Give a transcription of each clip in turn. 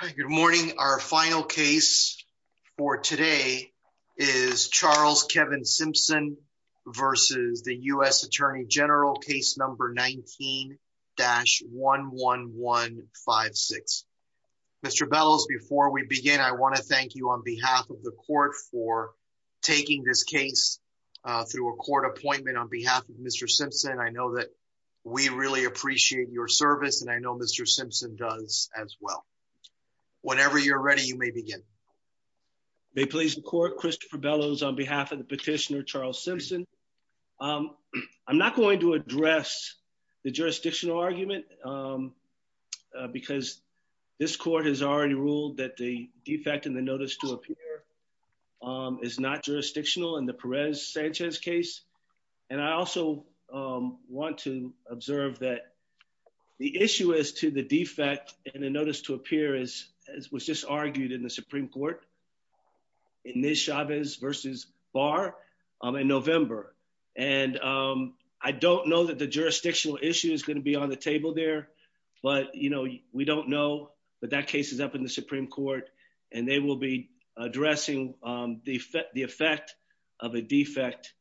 Good morning. Our final case for today is Charles Kevin Simpson versus the U.S. Attorney General case number 19-11156. Mr. Bellows, before we begin, I want to thank you on behalf of the court for taking this case through a court appointment on behalf of Mr. Simpson. I know that we really appreciate your service and I know Mr. Simpson does as well. Whenever you're ready, you may begin. May it please the court, Christopher Bellows on behalf of the petitioner Charles Simpson. I'm not going to address the jurisdictional argument because this court has already ruled that the defect in the notice to appear is not jurisdictional in the Perez-Sanchez case. And I also want to observe that the issue is to the defect in the notice to appear as was just argued in the Supreme Court in this Chavez versus Barr in November. And I don't know that the jurisdictional issue is going to be on the table there. But, you know, we don't know. But that case is up in the Supreme Court and they will be addressing the effect of a defect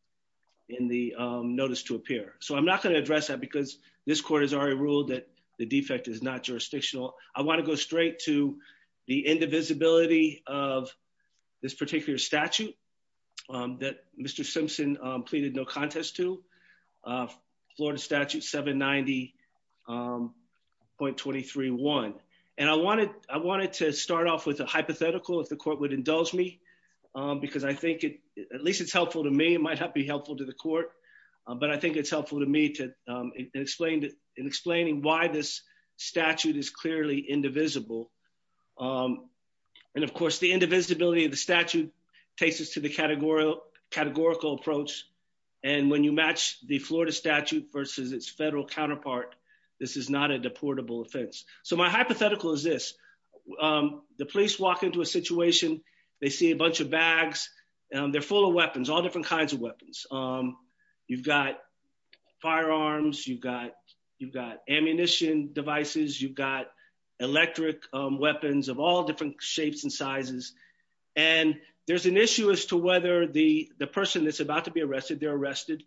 in the notice to appear. So I'm not going to address that because this court has already ruled that the defect is not jurisdictional. I want to go straight to the indivisibility of this particular statute that Mr. Simpson pleaded no contest to, Florida Statute 790.231. And I wanted to start off with a hypothetical, if the court would indulge me, because I think at least it's helpful to me. It might not be helpful to the court, but I think it's helpful to me in explaining why this statute is clearly indivisible. And of course, the indivisibility of the statute takes us to the categorical approach. And when you match the Florida statute versus its federal counterpart, this is not a deportable offense. So my hypothetical is this, the police walk into a situation, they see a bunch of bags, they're full of weapons, all different kinds of weapons. You've got firearms, you've got ammunition devices, you've got electric weapons of all different shapes and sizes. And there's an issue as to whether the person that's about to be arrested, they're arrested,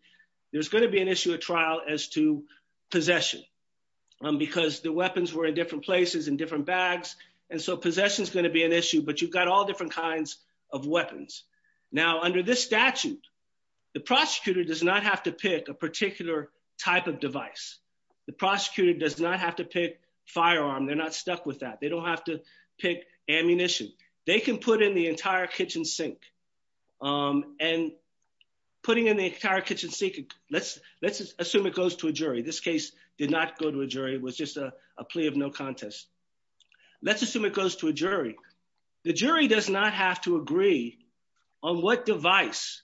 there's going to be an trial as to possession, because the weapons were in different places in different bags. And so possession is going to be an issue, but you've got all different kinds of weapons. Now under this statute, the prosecutor does not have to pick a particular type of device. The prosecutor does not have to pick firearm, they're not stuck with that. They don't have to pick ammunition. They can put in the entire kitchen sink. And putting in the entire kitchen sink, let's assume it goes to a jury. This case did not go to a jury, it was just a plea of no contest. Let's assume it goes to a jury. The jury does not have to agree on what device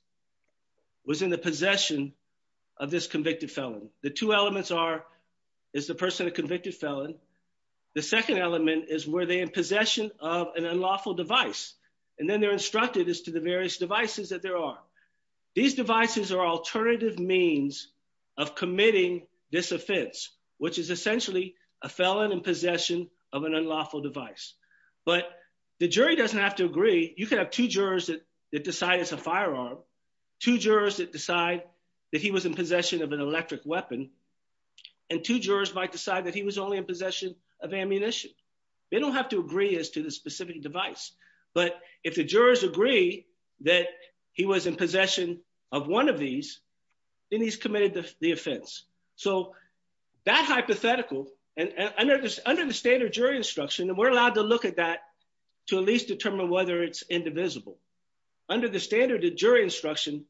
was in the possession of this convicted felon. The two elements are, is the person a convicted felon? The second element is, were they in possession of an unlawful device? And then instructed as to the various devices that there are. These devices are alternative means of committing this offense, which is essentially a felon in possession of an unlawful device. But the jury doesn't have to agree. You can have two jurors that decide it's a firearm, two jurors that decide that he was in possession of an electric weapon, and two jurors might decide that he was only in possession of ammunition. They don't have agree as to the specific device. But if the jurors agree that he was in possession of one of these, then he's committed the offense. So that hypothetical, and under the standard jury instruction, and we're allowed to look at that to at least determine whether it's indivisible. Under the standard jury instruction,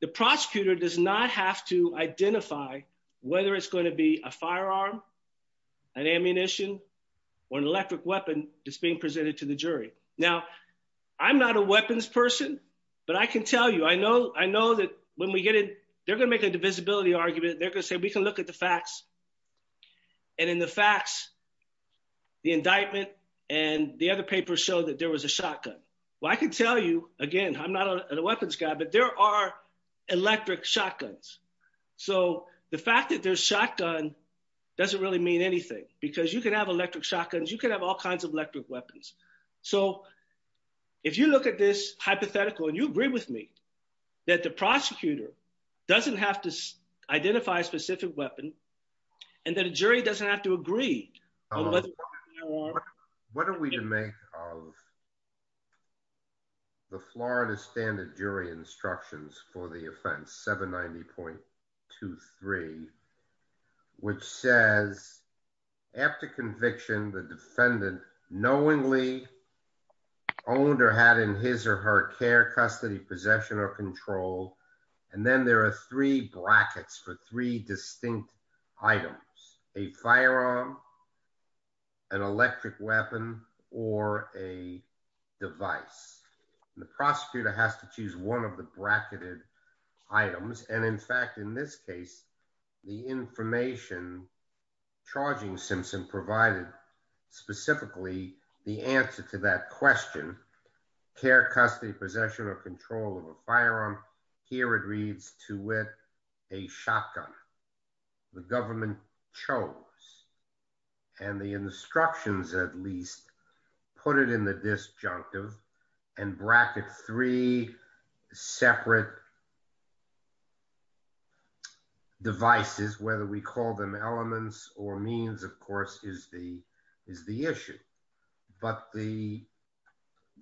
the prosecutor does not have to identify whether it's going to be a firearm, an ammunition, or an electric weapon that's being presented to the jury. Now, I'm not a weapons person, but I can tell you, I know that when we get in, they're going to make a divisibility argument. They're going to say, we can look at the facts. And in the facts, the indictment and the other papers show that there was a shotgun. Well, I can tell you, again, I'm not a weapons guy, but there are electric shotguns. So the fact that there's shotgun doesn't really mean anything, because you can have electric shotguns. You can have all kinds of electric weapons. So if you look at this hypothetical, and you agree with me that the prosecutor doesn't have to identify a specific weapon, and that a jury doesn't have to agree on whether it's a firearm. What are we to make of the Florida standard jury instructions for the offense 790.23, which says, after conviction, the defendant knowingly owned or had in his or her care, custody, possession, or control. And then there are three brackets for three distinct items, a firearm, an electric weapon, or a device, the prosecutor has to choose one of the bracketed items. And in fact, in this case, the information charging Simpson provided, specifically, the answer to that question, care, custody, possession or control of a firearm. Here it shows, and the instructions, at least, put it in the disjunctive, and bracket three separate devices, whether we call them elements or means, of course, is the is the issue. But the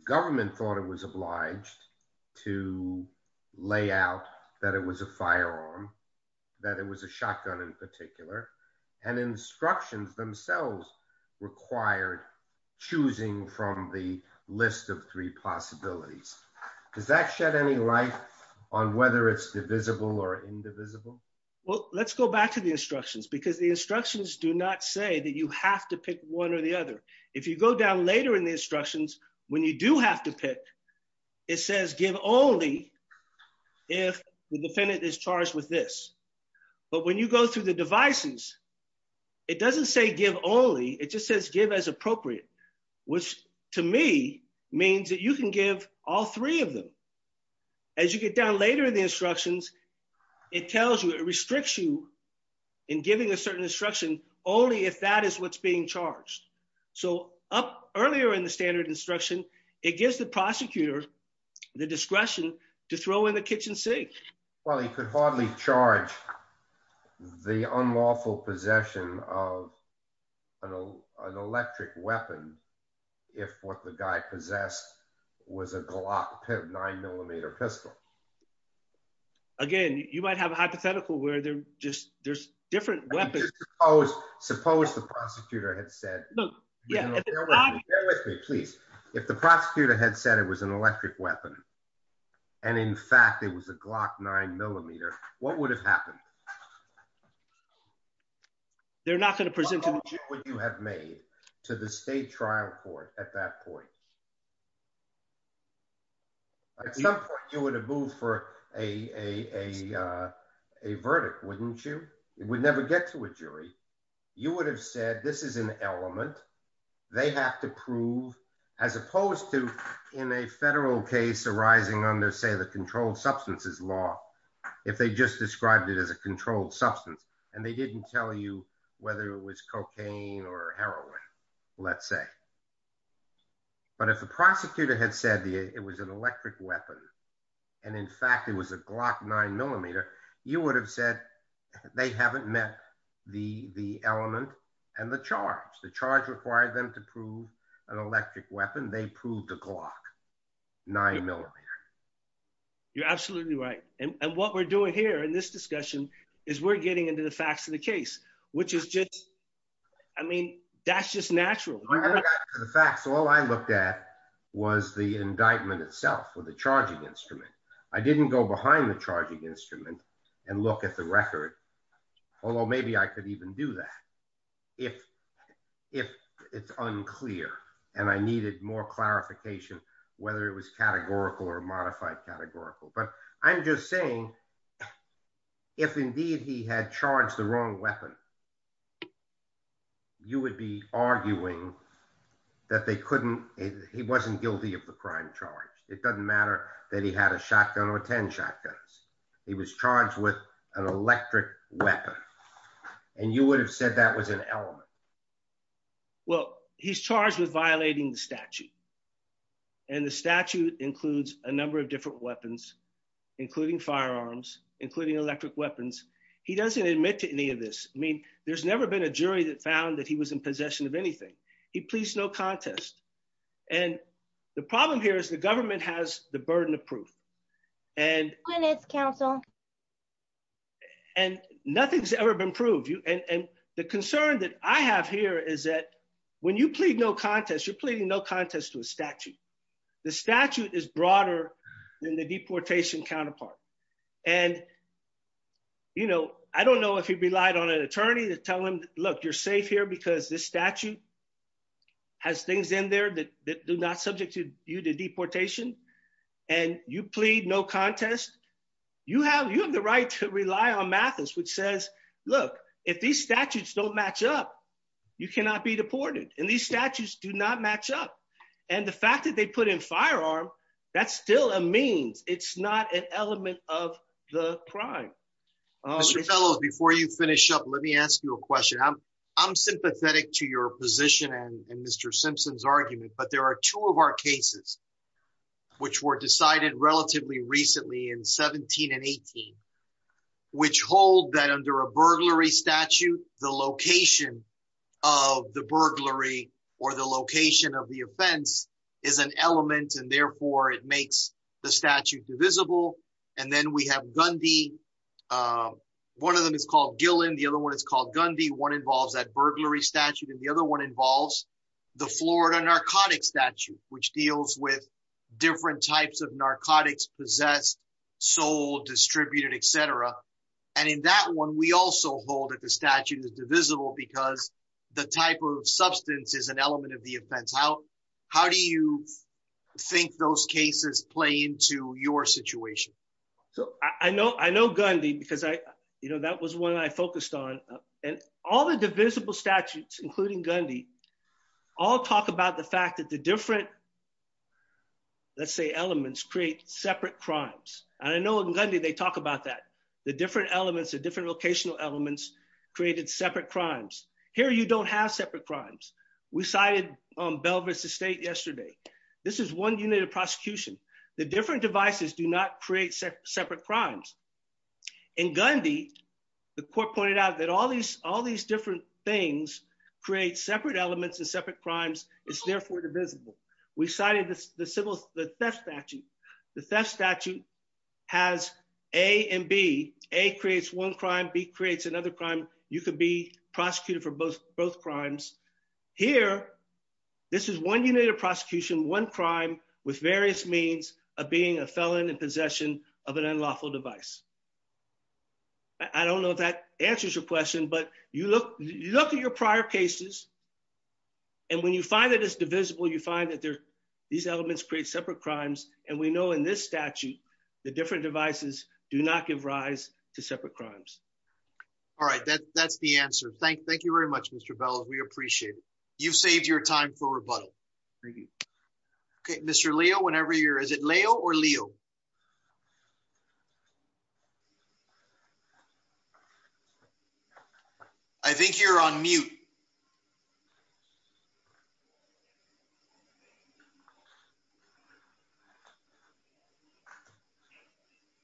government thought it was obliged to lay out that it was a firearm, that it was a shotgun, in particular, and instructions themselves required choosing from the list of three possibilities. Does that shed any light on whether it's divisible or indivisible? Well, let's go back to the instructions, because the instructions do not say that you have to pick one or the other. If you go down later in the instructions, when you do have to pick, it says give only if the defendant is charged with this. But when you go through the devices, it doesn't say give only, it just says give as appropriate, which to me, means that you can give all three of them. As you get down later in the instructions, it tells you, it restricts you in giving a certain instruction, only if that is what's being charged. So up earlier in the instruction, it gives the prosecutor the discretion to throw in the kitchen sink. Well, he could hardly charge the unlawful possession of an electric weapon, if what the guy possessed was a Glock 9 millimeter pistol. Again, you might have a hypothetical where they're just there's different weapons. Suppose the prosecutor had said, please, if the prosecutor had said it was an electric weapon, and in fact, it was a Glock 9 millimeter, what would have happened? They're not going to present what you have made to the state trial court at that point. At some point, you would have moved for a verdict, wouldn't you? It would never get to a jury. You would have said this is an element they have to prove, as opposed to in a federal case arising under, say, the controlled substances law, if they just described it as a controlled substance, and they didn't tell you whether it was cocaine or heroin, let's say. But if the prosecutor had said it was an electric weapon, and in fact, it was a Glock 9 millimeter, you would have said they haven't met the element and the charge. The charge required them to prove an electric weapon. They proved a Glock 9 millimeter. You're absolutely right. And what we're doing here in this discussion is we're getting into the facts of the case, which is just, I mean, that's just natural. The facts, all I looked at was the indictment itself with the charging instrument. I didn't go behind the charging instrument and look at the record, although maybe I could even do that if it's unclear, and I needed more clarification, whether it was categorical or modified categorical. But I'm just saying, if indeed he had charged the wrong weapon, you would be arguing that they couldn't, he wasn't guilty of the crime charge. It doesn't matter that he had a shotgun or 10 shotguns. He was charged with an electric weapon, and you would have said that was an element. Well, he's charged with violating the statute, and the statute includes a number of different weapons, including firearms, including electric weapons. He doesn't admit to any of this. I mean, there's never been a jury that found that he was in possession of anything. He pleads no contest. And the problem here is the government has the burden of proof, and nothing's ever been proved. And the concern that I have here is that when you plead no contest, you're pleading no contest to a statute. The statute is broader than the you know, I don't know if he relied on an attorney to tell him, look, you're safe here because this statute has things in there that do not subject you to deportation, and you plead no contest. You have the right to rely on Mathis, which says, look, if these statutes don't match up, you cannot be deported, and these statutes do not match up. And the fact that they put in firearm, that's still a means. It's not an element of the crime. Mr. Fellowes, before you finish up, let me ask you a question. I'm sympathetic to your position and Mr. Simpson's argument, but there are two of our cases, which were decided relatively recently in 17 and 18, which hold that under a burglary statute, the location of the burglary or the it makes the statute divisible. And then we have Gundy. One of them is called Gillen. The other one is called Gundy. One involves that burglary statute, and the other one involves the Florida narcotics statute, which deals with different types of narcotics, possessed, sold, distributed, et cetera. And in that one, we also hold that the statute is divisible because the type of cases play into your situation. I know Gundy because that was one I focused on, and all the divisible statutes, including Gundy, all talk about the fact that the different, let's say, elements create separate crimes. And I know in Gundy, they talk about that. The different elements, the different locational elements created separate crimes. Here, you don't have separate crimes. We cited Bell v. State yesterday. This is one unit of prosecution. The different devices do not create separate crimes. In Gundy, the court pointed out that all these different things create separate elements and separate crimes. It's therefore divisible. We cited the theft statute. The theft statute has A and B. A creates one crime. B creates both crimes. Here, this is one unit of prosecution, one crime with various means of being a felon in possession of an unlawful device. I don't know if that answers your question, but you look at your prior cases, and when you find that it's divisible, you find that these elements create separate crimes. And we know in this statute, the different devices do not give rise to separate crimes. All right, that's the answer. Thank you very much, Mr. Bell. We appreciate it. You've saved your time for rebuttal. Thank you. Okay, Mr. Leo, whenever you're, is it Leo or Leo? I think you're on mute.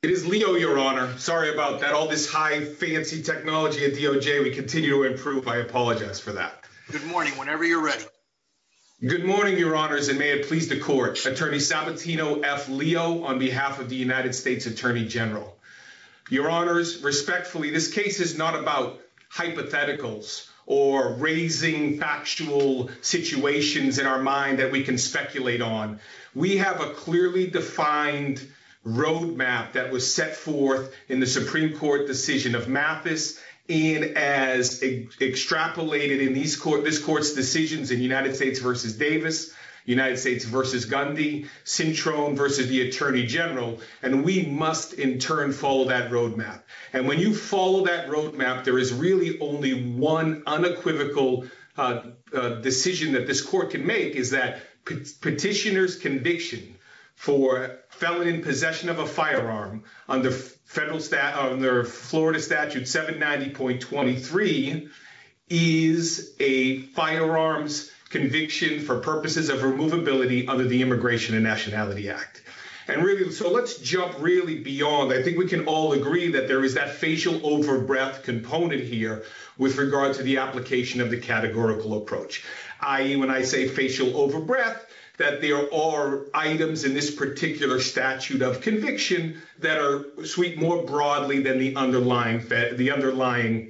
It is Leo, Your Honor. Sorry about that. All this high, fancy technology at DOJ, we continue to improve. I apologize for that. Good morning, whenever you're ready. Good morning, Your Honors, and may it please the court. Attorney Sabatino F. Leo, on behalf of the United States Attorney General. Your Honors, respectfully, this case is not about raising factual situations in our mind that we can speculate on. We have a clearly defined roadmap that was set forth in the Supreme Court decision of Mathis, and as extrapolated in this court's decisions in United States v. Davis, United States v. Gundy, Sintrone v. the Attorney General, and we must in turn follow that roadmap. And when you follow that roadmap, there is really only one unequivocal decision that this court can make, is that petitioner's conviction for felon in possession of a firearm under Florida Statute 790.23 is a firearms conviction for purposes of removability under the Immigration and Nationality Act. And really, so let's jump beyond that. I think we can all agree that there is that facial over-breath component here with regard to the application of the categorical approach, i.e. when I say facial over-breath, that there are items in this particular statute of conviction that are sweet more broadly than the underlying federal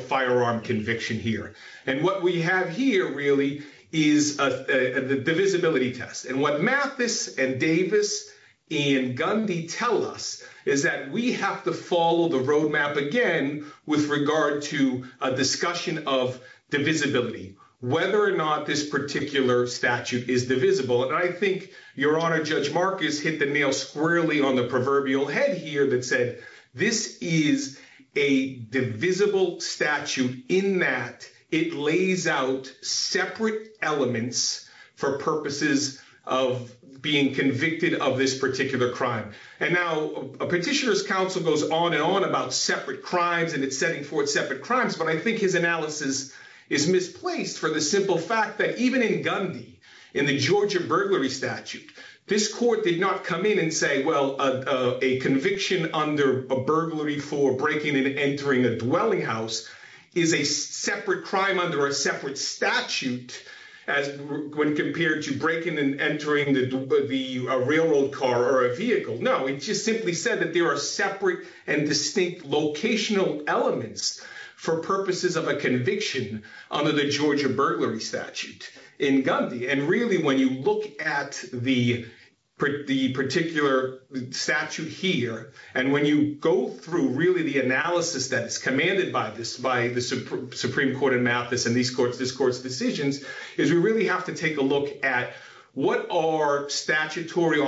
firearm conviction here. And what we have here really is a divisibility test. And what Mathis and Davis and Gundy tell us is that we have to follow the roadmap again with regard to a discussion of divisibility, whether or not this particular statute is divisible. And I think Your Honor, Judge Marcus hit the nail squarely on the proverbial head here that said, this is a divisible statute in that it lays out separate elements for purposes of being convicted of this particular crime. And now a petitioner's counsel goes on and on about separate crimes and it's setting forth separate crimes. But I think his analysis is misplaced for the simple fact that even in Gundy, in the Georgia burglary statute, this court did not come in and say, well, a conviction under a burglary for breaking and entering a dwelling house is a separate crime under a separate statute when compared to breaking and entering a railroad car or a vehicle. No, it just simply said that there are separate and distinct locational elements for purposes of a conviction under the Georgia burglary statute in Gundy. And really, when you look at the particular statute here, and when you go through really the analysis that is commanded by this, by the Supreme Court in Mathis and this court's decisions, is we really have to take a look at what are statutory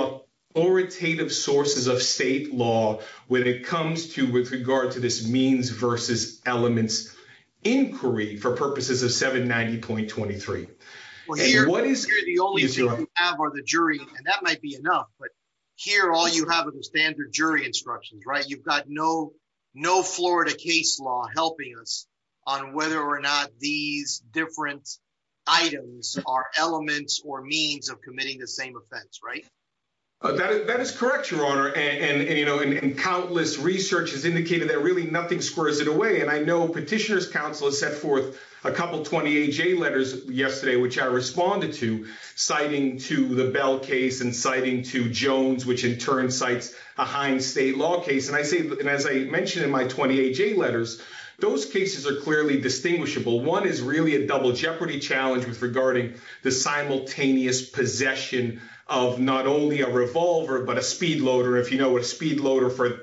oritative sources of state law when it comes to, with regard to this versus elements inquiry for purposes of 790.23. Well, here, the only thing you have are the jury, and that might be enough, but here all you have are the standard jury instructions, right? You've got no Florida case law helping us on whether or not these different items are elements or means of committing the same offense, right? That is correct, Your Honor. And countless research has indicated that really nothing squares it away. And I know Petitioner's Counsel has set forth a couple of 20HA letters yesterday, which I responded to, citing to the Bell case and citing to Jones, which in turn cites a Hines state law case. And as I mentioned in my 20HA letters, those cases are clearly distinguishable. One is really a double jeopardy challenge with regarding the simultaneous possession of not only a revolver, but a speed loader, if you know what a speed loader for he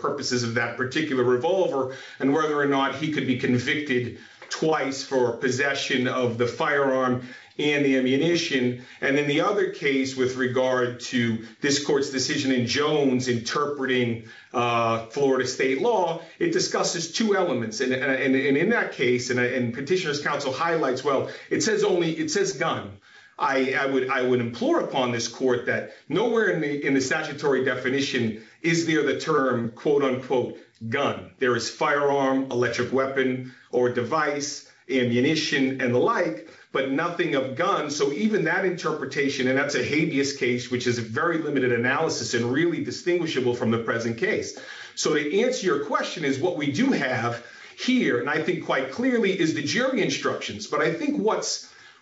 could be convicted twice for possession of the firearm and the ammunition. And in the other case, with regard to this court's decision in Jones interpreting Florida state law, it discusses two elements. And in that case, and Petitioner's Counsel highlights, well, it says only, it says gun. I would implore upon this court that nowhere in the statutory definition is there a term, quote unquote, gun. There is firearm, electric weapon, or device, ammunition and the like, but nothing of gun. So even that interpretation, and that's a habeas case, which is a very limited analysis and really distinguishable from the present case. So to answer your question is what we do have here, and I think quite clearly is the jury instructions. But I think what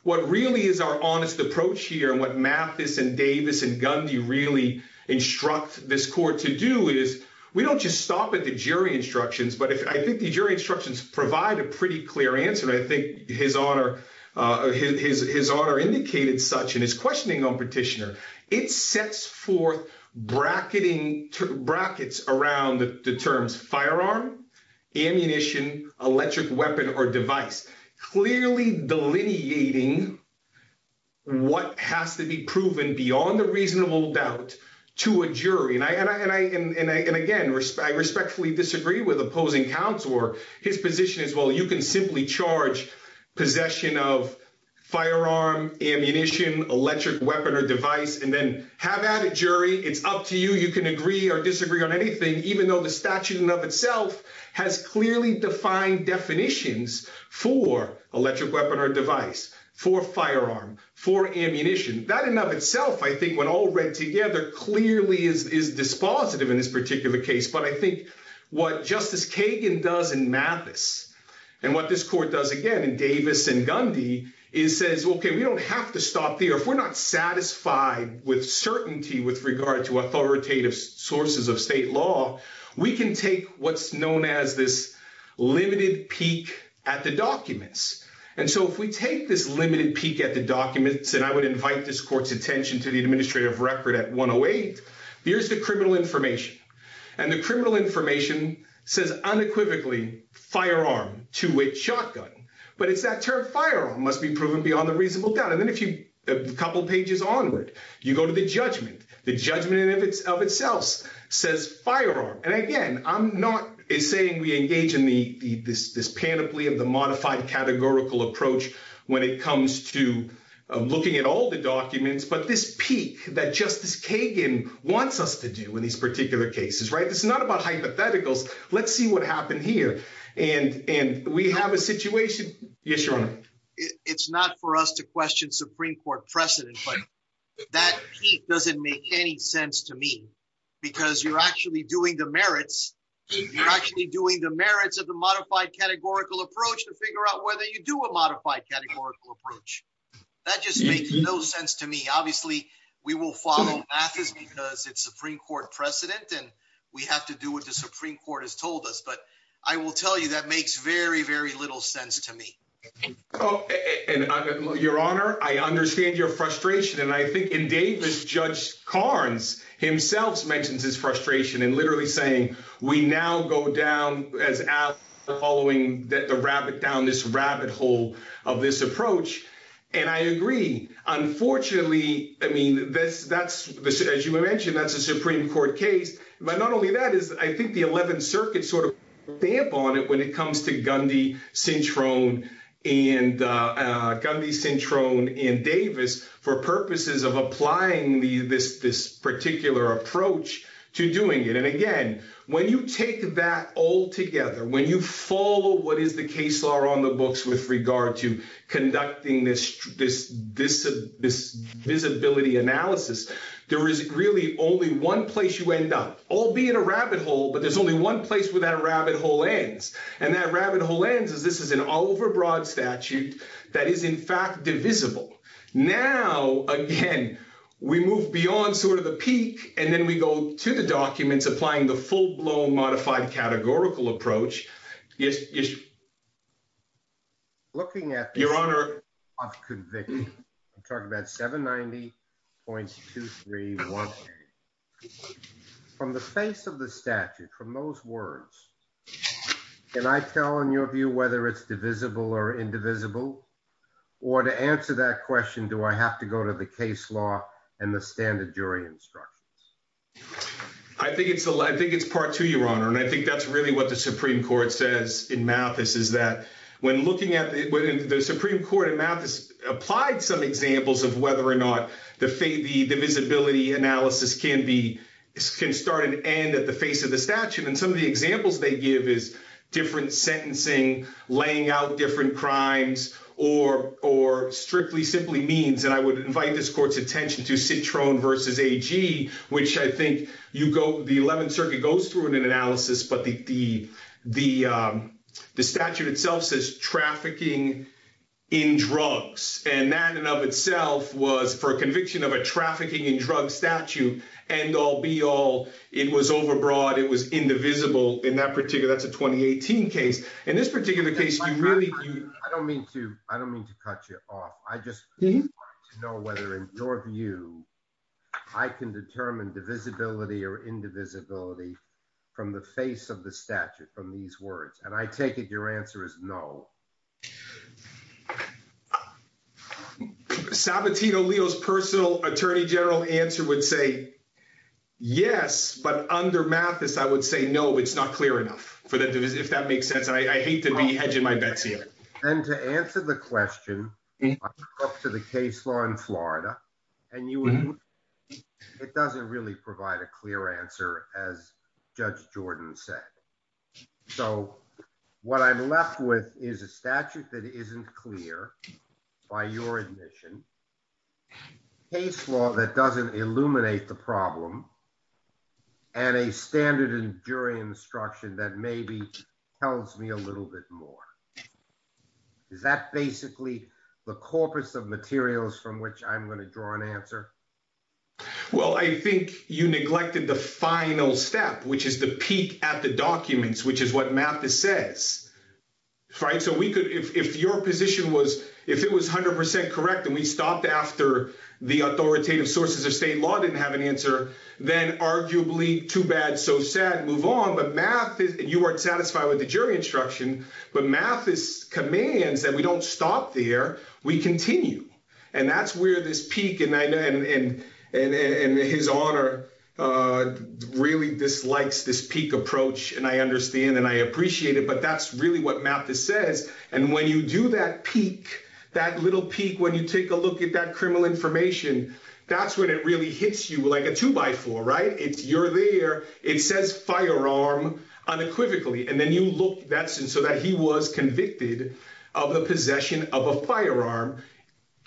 really is our honest approach here and what Mathis and Davis and Gundy really instruct this court to do is we don't just stop at the jury instructions, but I think the jury instructions provide a pretty clear answer. And I think his honor indicated such in his questioning on Petitioner. It sets forth brackets around the terms firearm, ammunition, electric weapon, or device, clearly delineating what has to be proven beyond the reasonable doubt to a jury. And again, I respectfully disagree with opposing counts or his position as well. You can simply charge possession of firearm, ammunition, electric weapon, or device, and then have added jury. It's up to you. You can agree or disagree on anything, even though the statute in and of itself has clearly defined definitions for electric weapon or device, for firearm, for ammunition. That in and of itself, I think when all read together, clearly is dispositive in this particular case. But I think what Justice Kagan does in Mathis and what this court does again in Davis and Gundy is says, okay, we don't have to stop there. If we're not satisfied with certainty with regard to authoritative sources of state law, we can take what's known as this limited peek at the documents. And so if we take this limited peek at the documents, and I would invite this court's attention to the administrative record at 108, here's the criminal information. And the criminal information says unequivocally firearm, two-way shotgun, but it's that term firearm must be proven beyond the reasonable doubt. And then a couple of pages onward, you go to the judgment. The judgment in and of itself says firearm. And again, I'm not saying we engage in this panoply of the modified categorical approach when it comes to looking at all the documents, but this peek that Justice Kagan wants us to do in these particular cases, right? This is not about hypotheticals. Let's see what happened here. And we have a situation. Yes, Your Honor. It's not for us to question Supreme Court precedent, but that peek doesn't make any sense to me because you're actually doing the merits. You're actually doing the merits of the modified categorical approach to figure out whether you do a modified categorical approach. That just makes no sense to me. Obviously we will follow Mathis because it's Supreme Court precedent and we have to do what the Supreme Court has told us, but I will tell you that makes very, very little sense to me. Your Honor, I understand your frustration and I think in Davis, Judge Carnes himself mentions his frustration and literally saying we now go down as following the rabbit down this rabbit hole of this approach. And I agree. Unfortunately, I mean, that's as you mentioned, that's a Supreme Court case. But not only that is I think the 11th Circuit sort of stamp on it when it comes to Gundy, Cintrone and Davis for purposes of applying this particular approach to doing it. And again, when you take that all together, when you follow what is the case law on the books with regard to conducting this visibility analysis, there is really only one place you end up. I'll be in a rabbit hole, but there's only one place where that rabbit hole ends. And that rabbit hole ends is this is an all over broad statute that is in fact divisible. Now again, we move beyond sort of the peak and then we go to the documents applying the full-blown modified categorical approach. Yes. Looking at your Honor, I've convicted. I'm talking about 790 points to three. From the face of the statute, from those words, can I tell in your view whether it's divisible or indivisible? Or to answer that question, do I have to go to the case law and the standard jury instructions? I think it's I think it's part two, your Honor. And I think that's really what the Supreme Court says in Mathis is that when looking at the Supreme Court in Mathis applied some examples of whether or not the divisibility analysis can start and end at the face of the statute. And some of the examples they give is different sentencing, laying out different crimes, or strictly simply means. And I would invite this court's attention to Citroen versus AG, which I think the 11th Circuit goes through in an analysis, but the statute itself says trafficking in drugs. And that in and of itself was for a conviction of a trafficking in drugs statute, end all, be all. It was overbroad. It was indivisible in that particular, that's a 2018 case. In this particular case, you really, I don't mean to, I don't mean to cut you off. I just know whether in your view, I can determine divisibility or indivisibility from the face of the statute, from these words. And I take it your answer is no. Sabatino-Leo's personal attorney general answer would say yes, but under Mathis, I would say no, it's not clear enough for that, if that makes sense. And I hate to be hedging my bets here. And to answer the question up to the case law in Florida, and you, it doesn't really provide a clear answer as Judge Jordan said. So what I'm left with is a statute that isn't clear by your admission, case law that doesn't illuminate the problem, and a standard in jury instruction that maybe tells me a little bit more. Is that basically the corpus of materials from which I'm going to draw an answer? Well, I think you neglected the final step, which is the peak at the documents, which is what Mathis says. So we could, if your position was, if it was 100% correct, and we stopped after the authoritative sources of state law didn't have an answer, then arguably, too bad, so sad, move on. But Mathis, you weren't satisfied with the jury instruction, but Mathis commands that we don't stop there, we continue. And that's where this honor really dislikes this peak approach. And I understand and I appreciate it, but that's really what Mathis says. And when you do that peak, that little peak, when you take a look at that criminal information, that's when it really hits you like a two by four, right? It's you're there, it says firearm unequivocally. And then you look that's, and so that he was convicted of the possession of a firearm.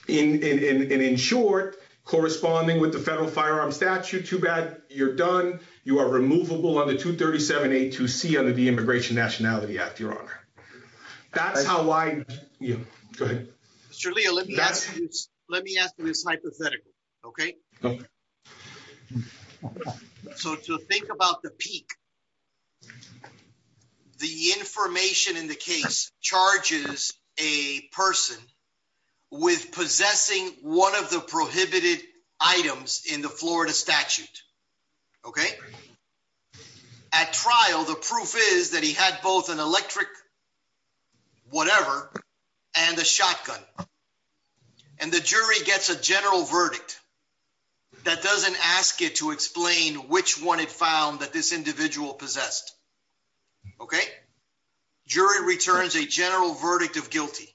And in short, corresponding with the federal firearm statute, too bad, you're done, you are removable on the 237A2C under the Immigration Nationality Act, Your Honor. That's how I, you, go ahead. Mr. Leo, let me ask you this hypothetical, okay? Okay. So to think about the peak, the information in the case charges a person with possessing one of the prohibited items in the Florida statute, okay? At trial, the proof is that he had both an electric whatever, and a shotgun. And the jury gets a general verdict that doesn't ask it to explain which one it found that this individual possessed, okay? Jury returns a general verdict of guilty.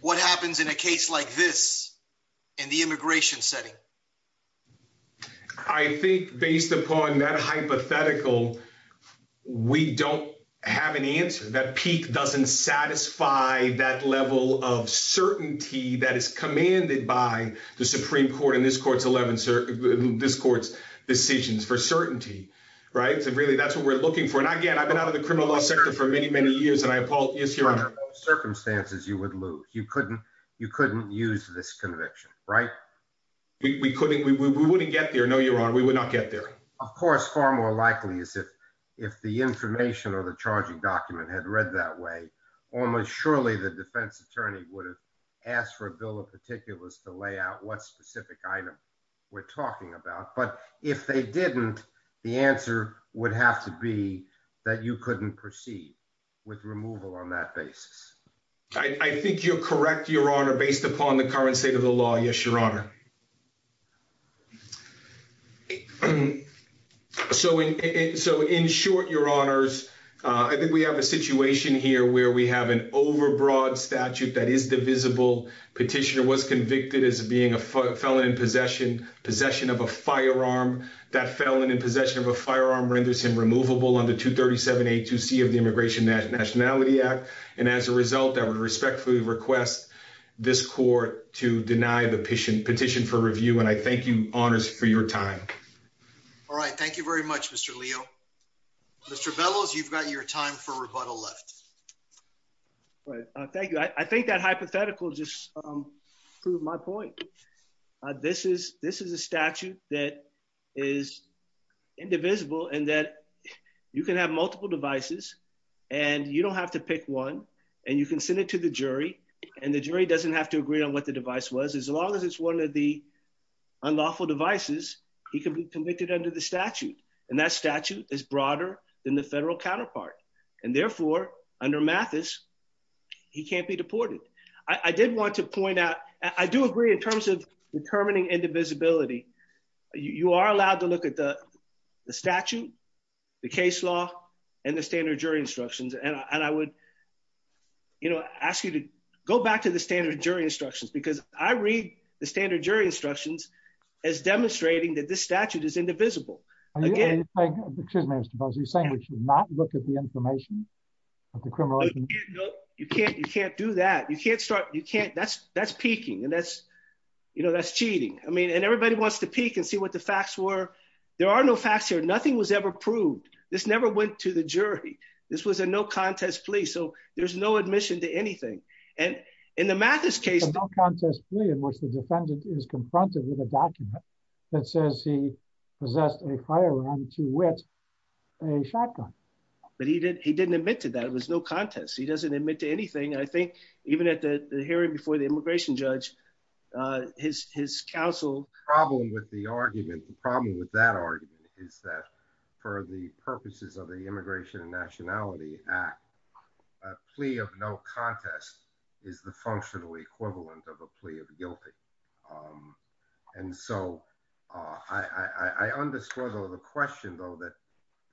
What happens in a case like this in the immigration setting? I think based upon that hypothetical, we don't have an answer. That peak doesn't satisfy that level of certainty that is commanded by the Supreme Court in this court's 11, this court's decisions for certainty, right? So really, that's what we're looking for. And again, I've been out of the criminal law sector for many, many years, and I apologize, Your Honor. Under what circumstances you would lose? You couldn't, you couldn't use this conviction, right? We couldn't, we wouldn't get there. No, Your Honor, we would not get there. Of course, far more likely is if the information or the charging document had read that way, almost surely the defense attorney would have asked for a bill of particulars to lay out what specific item we're talking about. But if they didn't, the answer would have to be that you couldn't proceed with removal on that basis. I think you're correct, Your Honor, based upon the current state of the law. Yes, Your Honor. So in short, Your Honors, I think we have a situation here where we have an overbroad statute that is divisible. Petitioner was convicted as being a felon in possession, possession of a firearm. That felon in possession of a firearm renders him that would respectfully request this court to deny the petition for review. And I thank you, Honors, for your time. All right. Thank you very much, Mr. Leo. Mr. Bellows, you've got your time for rebuttal left. Thank you. I think that hypothetical just proved my point. This is, this is a statute that is indivisible and that you can have multiple devices and you don't have to pick one. And you can send it to the jury and the jury doesn't have to agree on what the device was. As long as it's one of the unlawful devices, he can be convicted under the statute. And that statute is broader than the federal counterpart. And therefore, under Mathis, he can't be deported. I did want to point out, I do agree in terms of determining indivisibility. You are allowed to look at the statute, the case law, and the standard jury instructions. And I would, you know, ask you to go back to the standard jury instructions, because I read the standard jury instructions as demonstrating that this statute is indivisible. Excuse me, Mr. Bellows, are you saying we should not look at the information of the criminal? You can't, you can't do that. You can't start, you can't, that's, that's peaking. And that's, you know, that's cheating. I mean, and everybody wants to peek and see what the facts were. There are no facts here. Nothing was ever proved. This never went to the jury. This was a no contest plea. So there's no admission to anything. And in the Mathis case, The no contest plea in which the defendant is confronted with a document that says he possessed a firearm to which a shotgun. But he did, he didn't admit to that. It was no contest. He doesn't hear it before the immigration judge, his, his counsel. Problem with the argument, the problem with that argument is that for the purposes of the Immigration and Nationality Act, a plea of no contest is the functional equivalent of a plea of guilty. And so I understand the question, though, that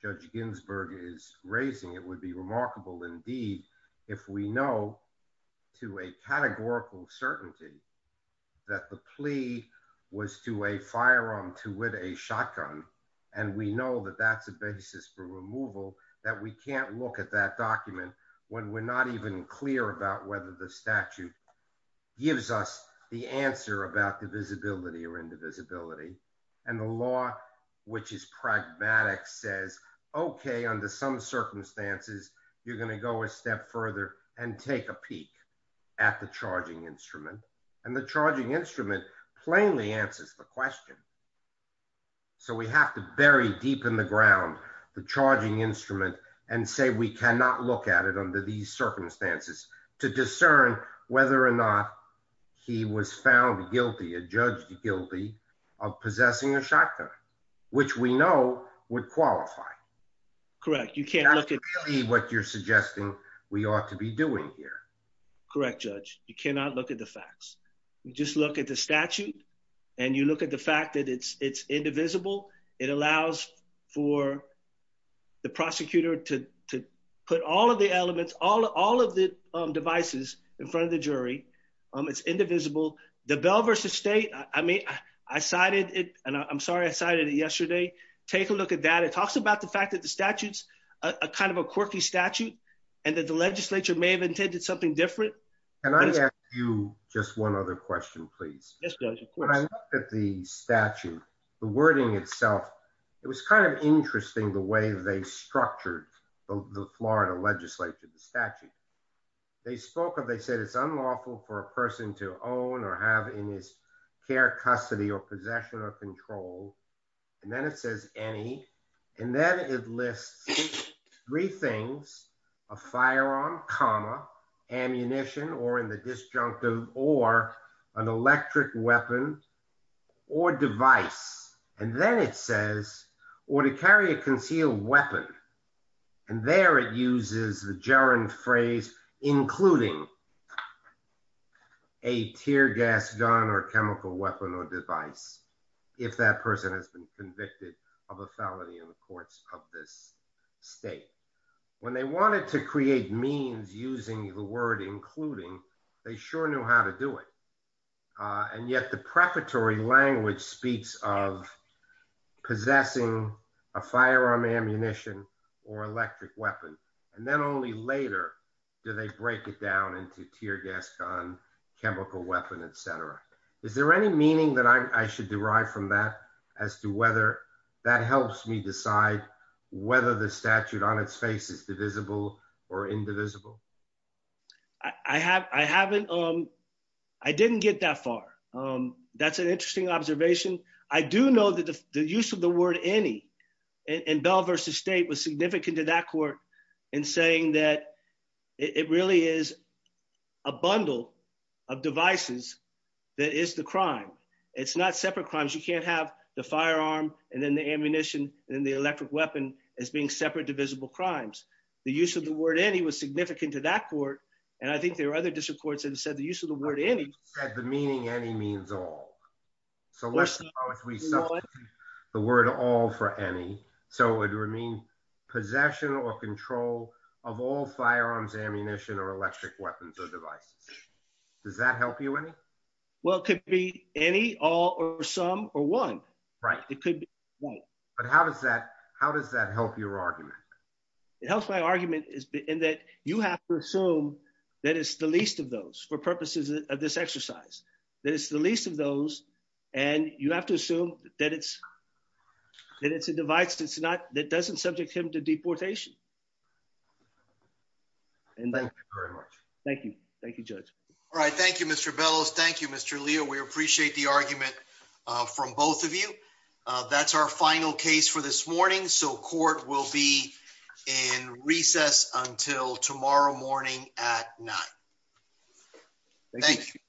Judge Ginsburg is raising, it would remarkable indeed if we know to a categorical certainty that the plea was to a firearm to with a shotgun. And we know that that's a basis for removal that we can't look at that document when we're not even clear about whether the statute gives us the answer about the visibility or indivisibility. And the law, which is pragmatic says, okay, under some circumstances, you're going to go a step further and take a peek at the charging instrument and the charging instrument plainly answers the question. So we have to bury deep in the ground, the charging instrument and say, we cannot look at it under these circumstances to discern whether or not he was found guilty, a judge guilty of possessing a shotgun, which we know would qualify. Correct. You can't look at what you're suggesting we ought to be doing here. Correct. Judge, you cannot look at the facts. You just look at the statute and you look at the fact that it's, it's indivisible. It allows for the prosecutor to, to put all of the elements, all of the devices in front of the jury. It's indivisible. The bell versus state. I mean, I cited it and I'm sorry, I cited it yesterday. Take a look at that. It talks about the fact that the statutes are kind of a quirky statute and that the legislature may have intended something different. Can I ask you just one other question, please? When I looked at the statute, the wording itself, it was kind of interesting the way they structured the Florida legislature, the statute. They spoke of, they said it's unlawful for a person to own or have in his care, custody or possession or control. And then it says any, and then it lists three things, a firearm comma ammunition or in the disjunctive or an electric weapon or device. And then it says, or to carry a concealed weapon. And there it uses the gerund phrase, including a tear gas gun or chemical weapon or device. If that person has been convicted of a felony in the state, when they wanted to create means using the word, including they sure knew how to do it. And yet the preparatory language speaks of possessing a firearm ammunition or electric weapon. And then only later do they break it down into tear gas gun, chemical weapon, et cetera. Is there any meaning that I should derive from that as to whether that helps me decide whether the statute on its face is divisible or indivisible? I haven't, I didn't get that far. That's an interesting observation. I do know that the use of the word any in Bell versus state was significant to that court in saying that it really is a bundle of devices. That is the crime. It's not separate crimes. You can't have the firearm and then the ammunition and the electric weapon as being separate divisible crimes. The use of the word any was significant to that court. And I think there are other district courts that have said the use of the word any. The meaning any means all. So let's talk about if we substitute the word all for any, so it would mean possession or control of all firearms, ammunition, or electric weapons or devices. Does that help you any? Well, it could be any all or some or one, right? It could be one. But how does that, how does that help your argument? It helps my argument is in that you have to assume that it's the least of those for purposes of this exercise, that it's the least of those. And you have to assume that it's, that it's a device that's not, that doesn't subject him to deportation. And thank you very much. Thank you. Thank you, Judge. All right. Thank you, Mr. Bellows. Thank you, Mr. Leo. We appreciate the argument from both of you. That's our final case for this morning. So court will be in recess until tomorrow morning at nine. Thank you.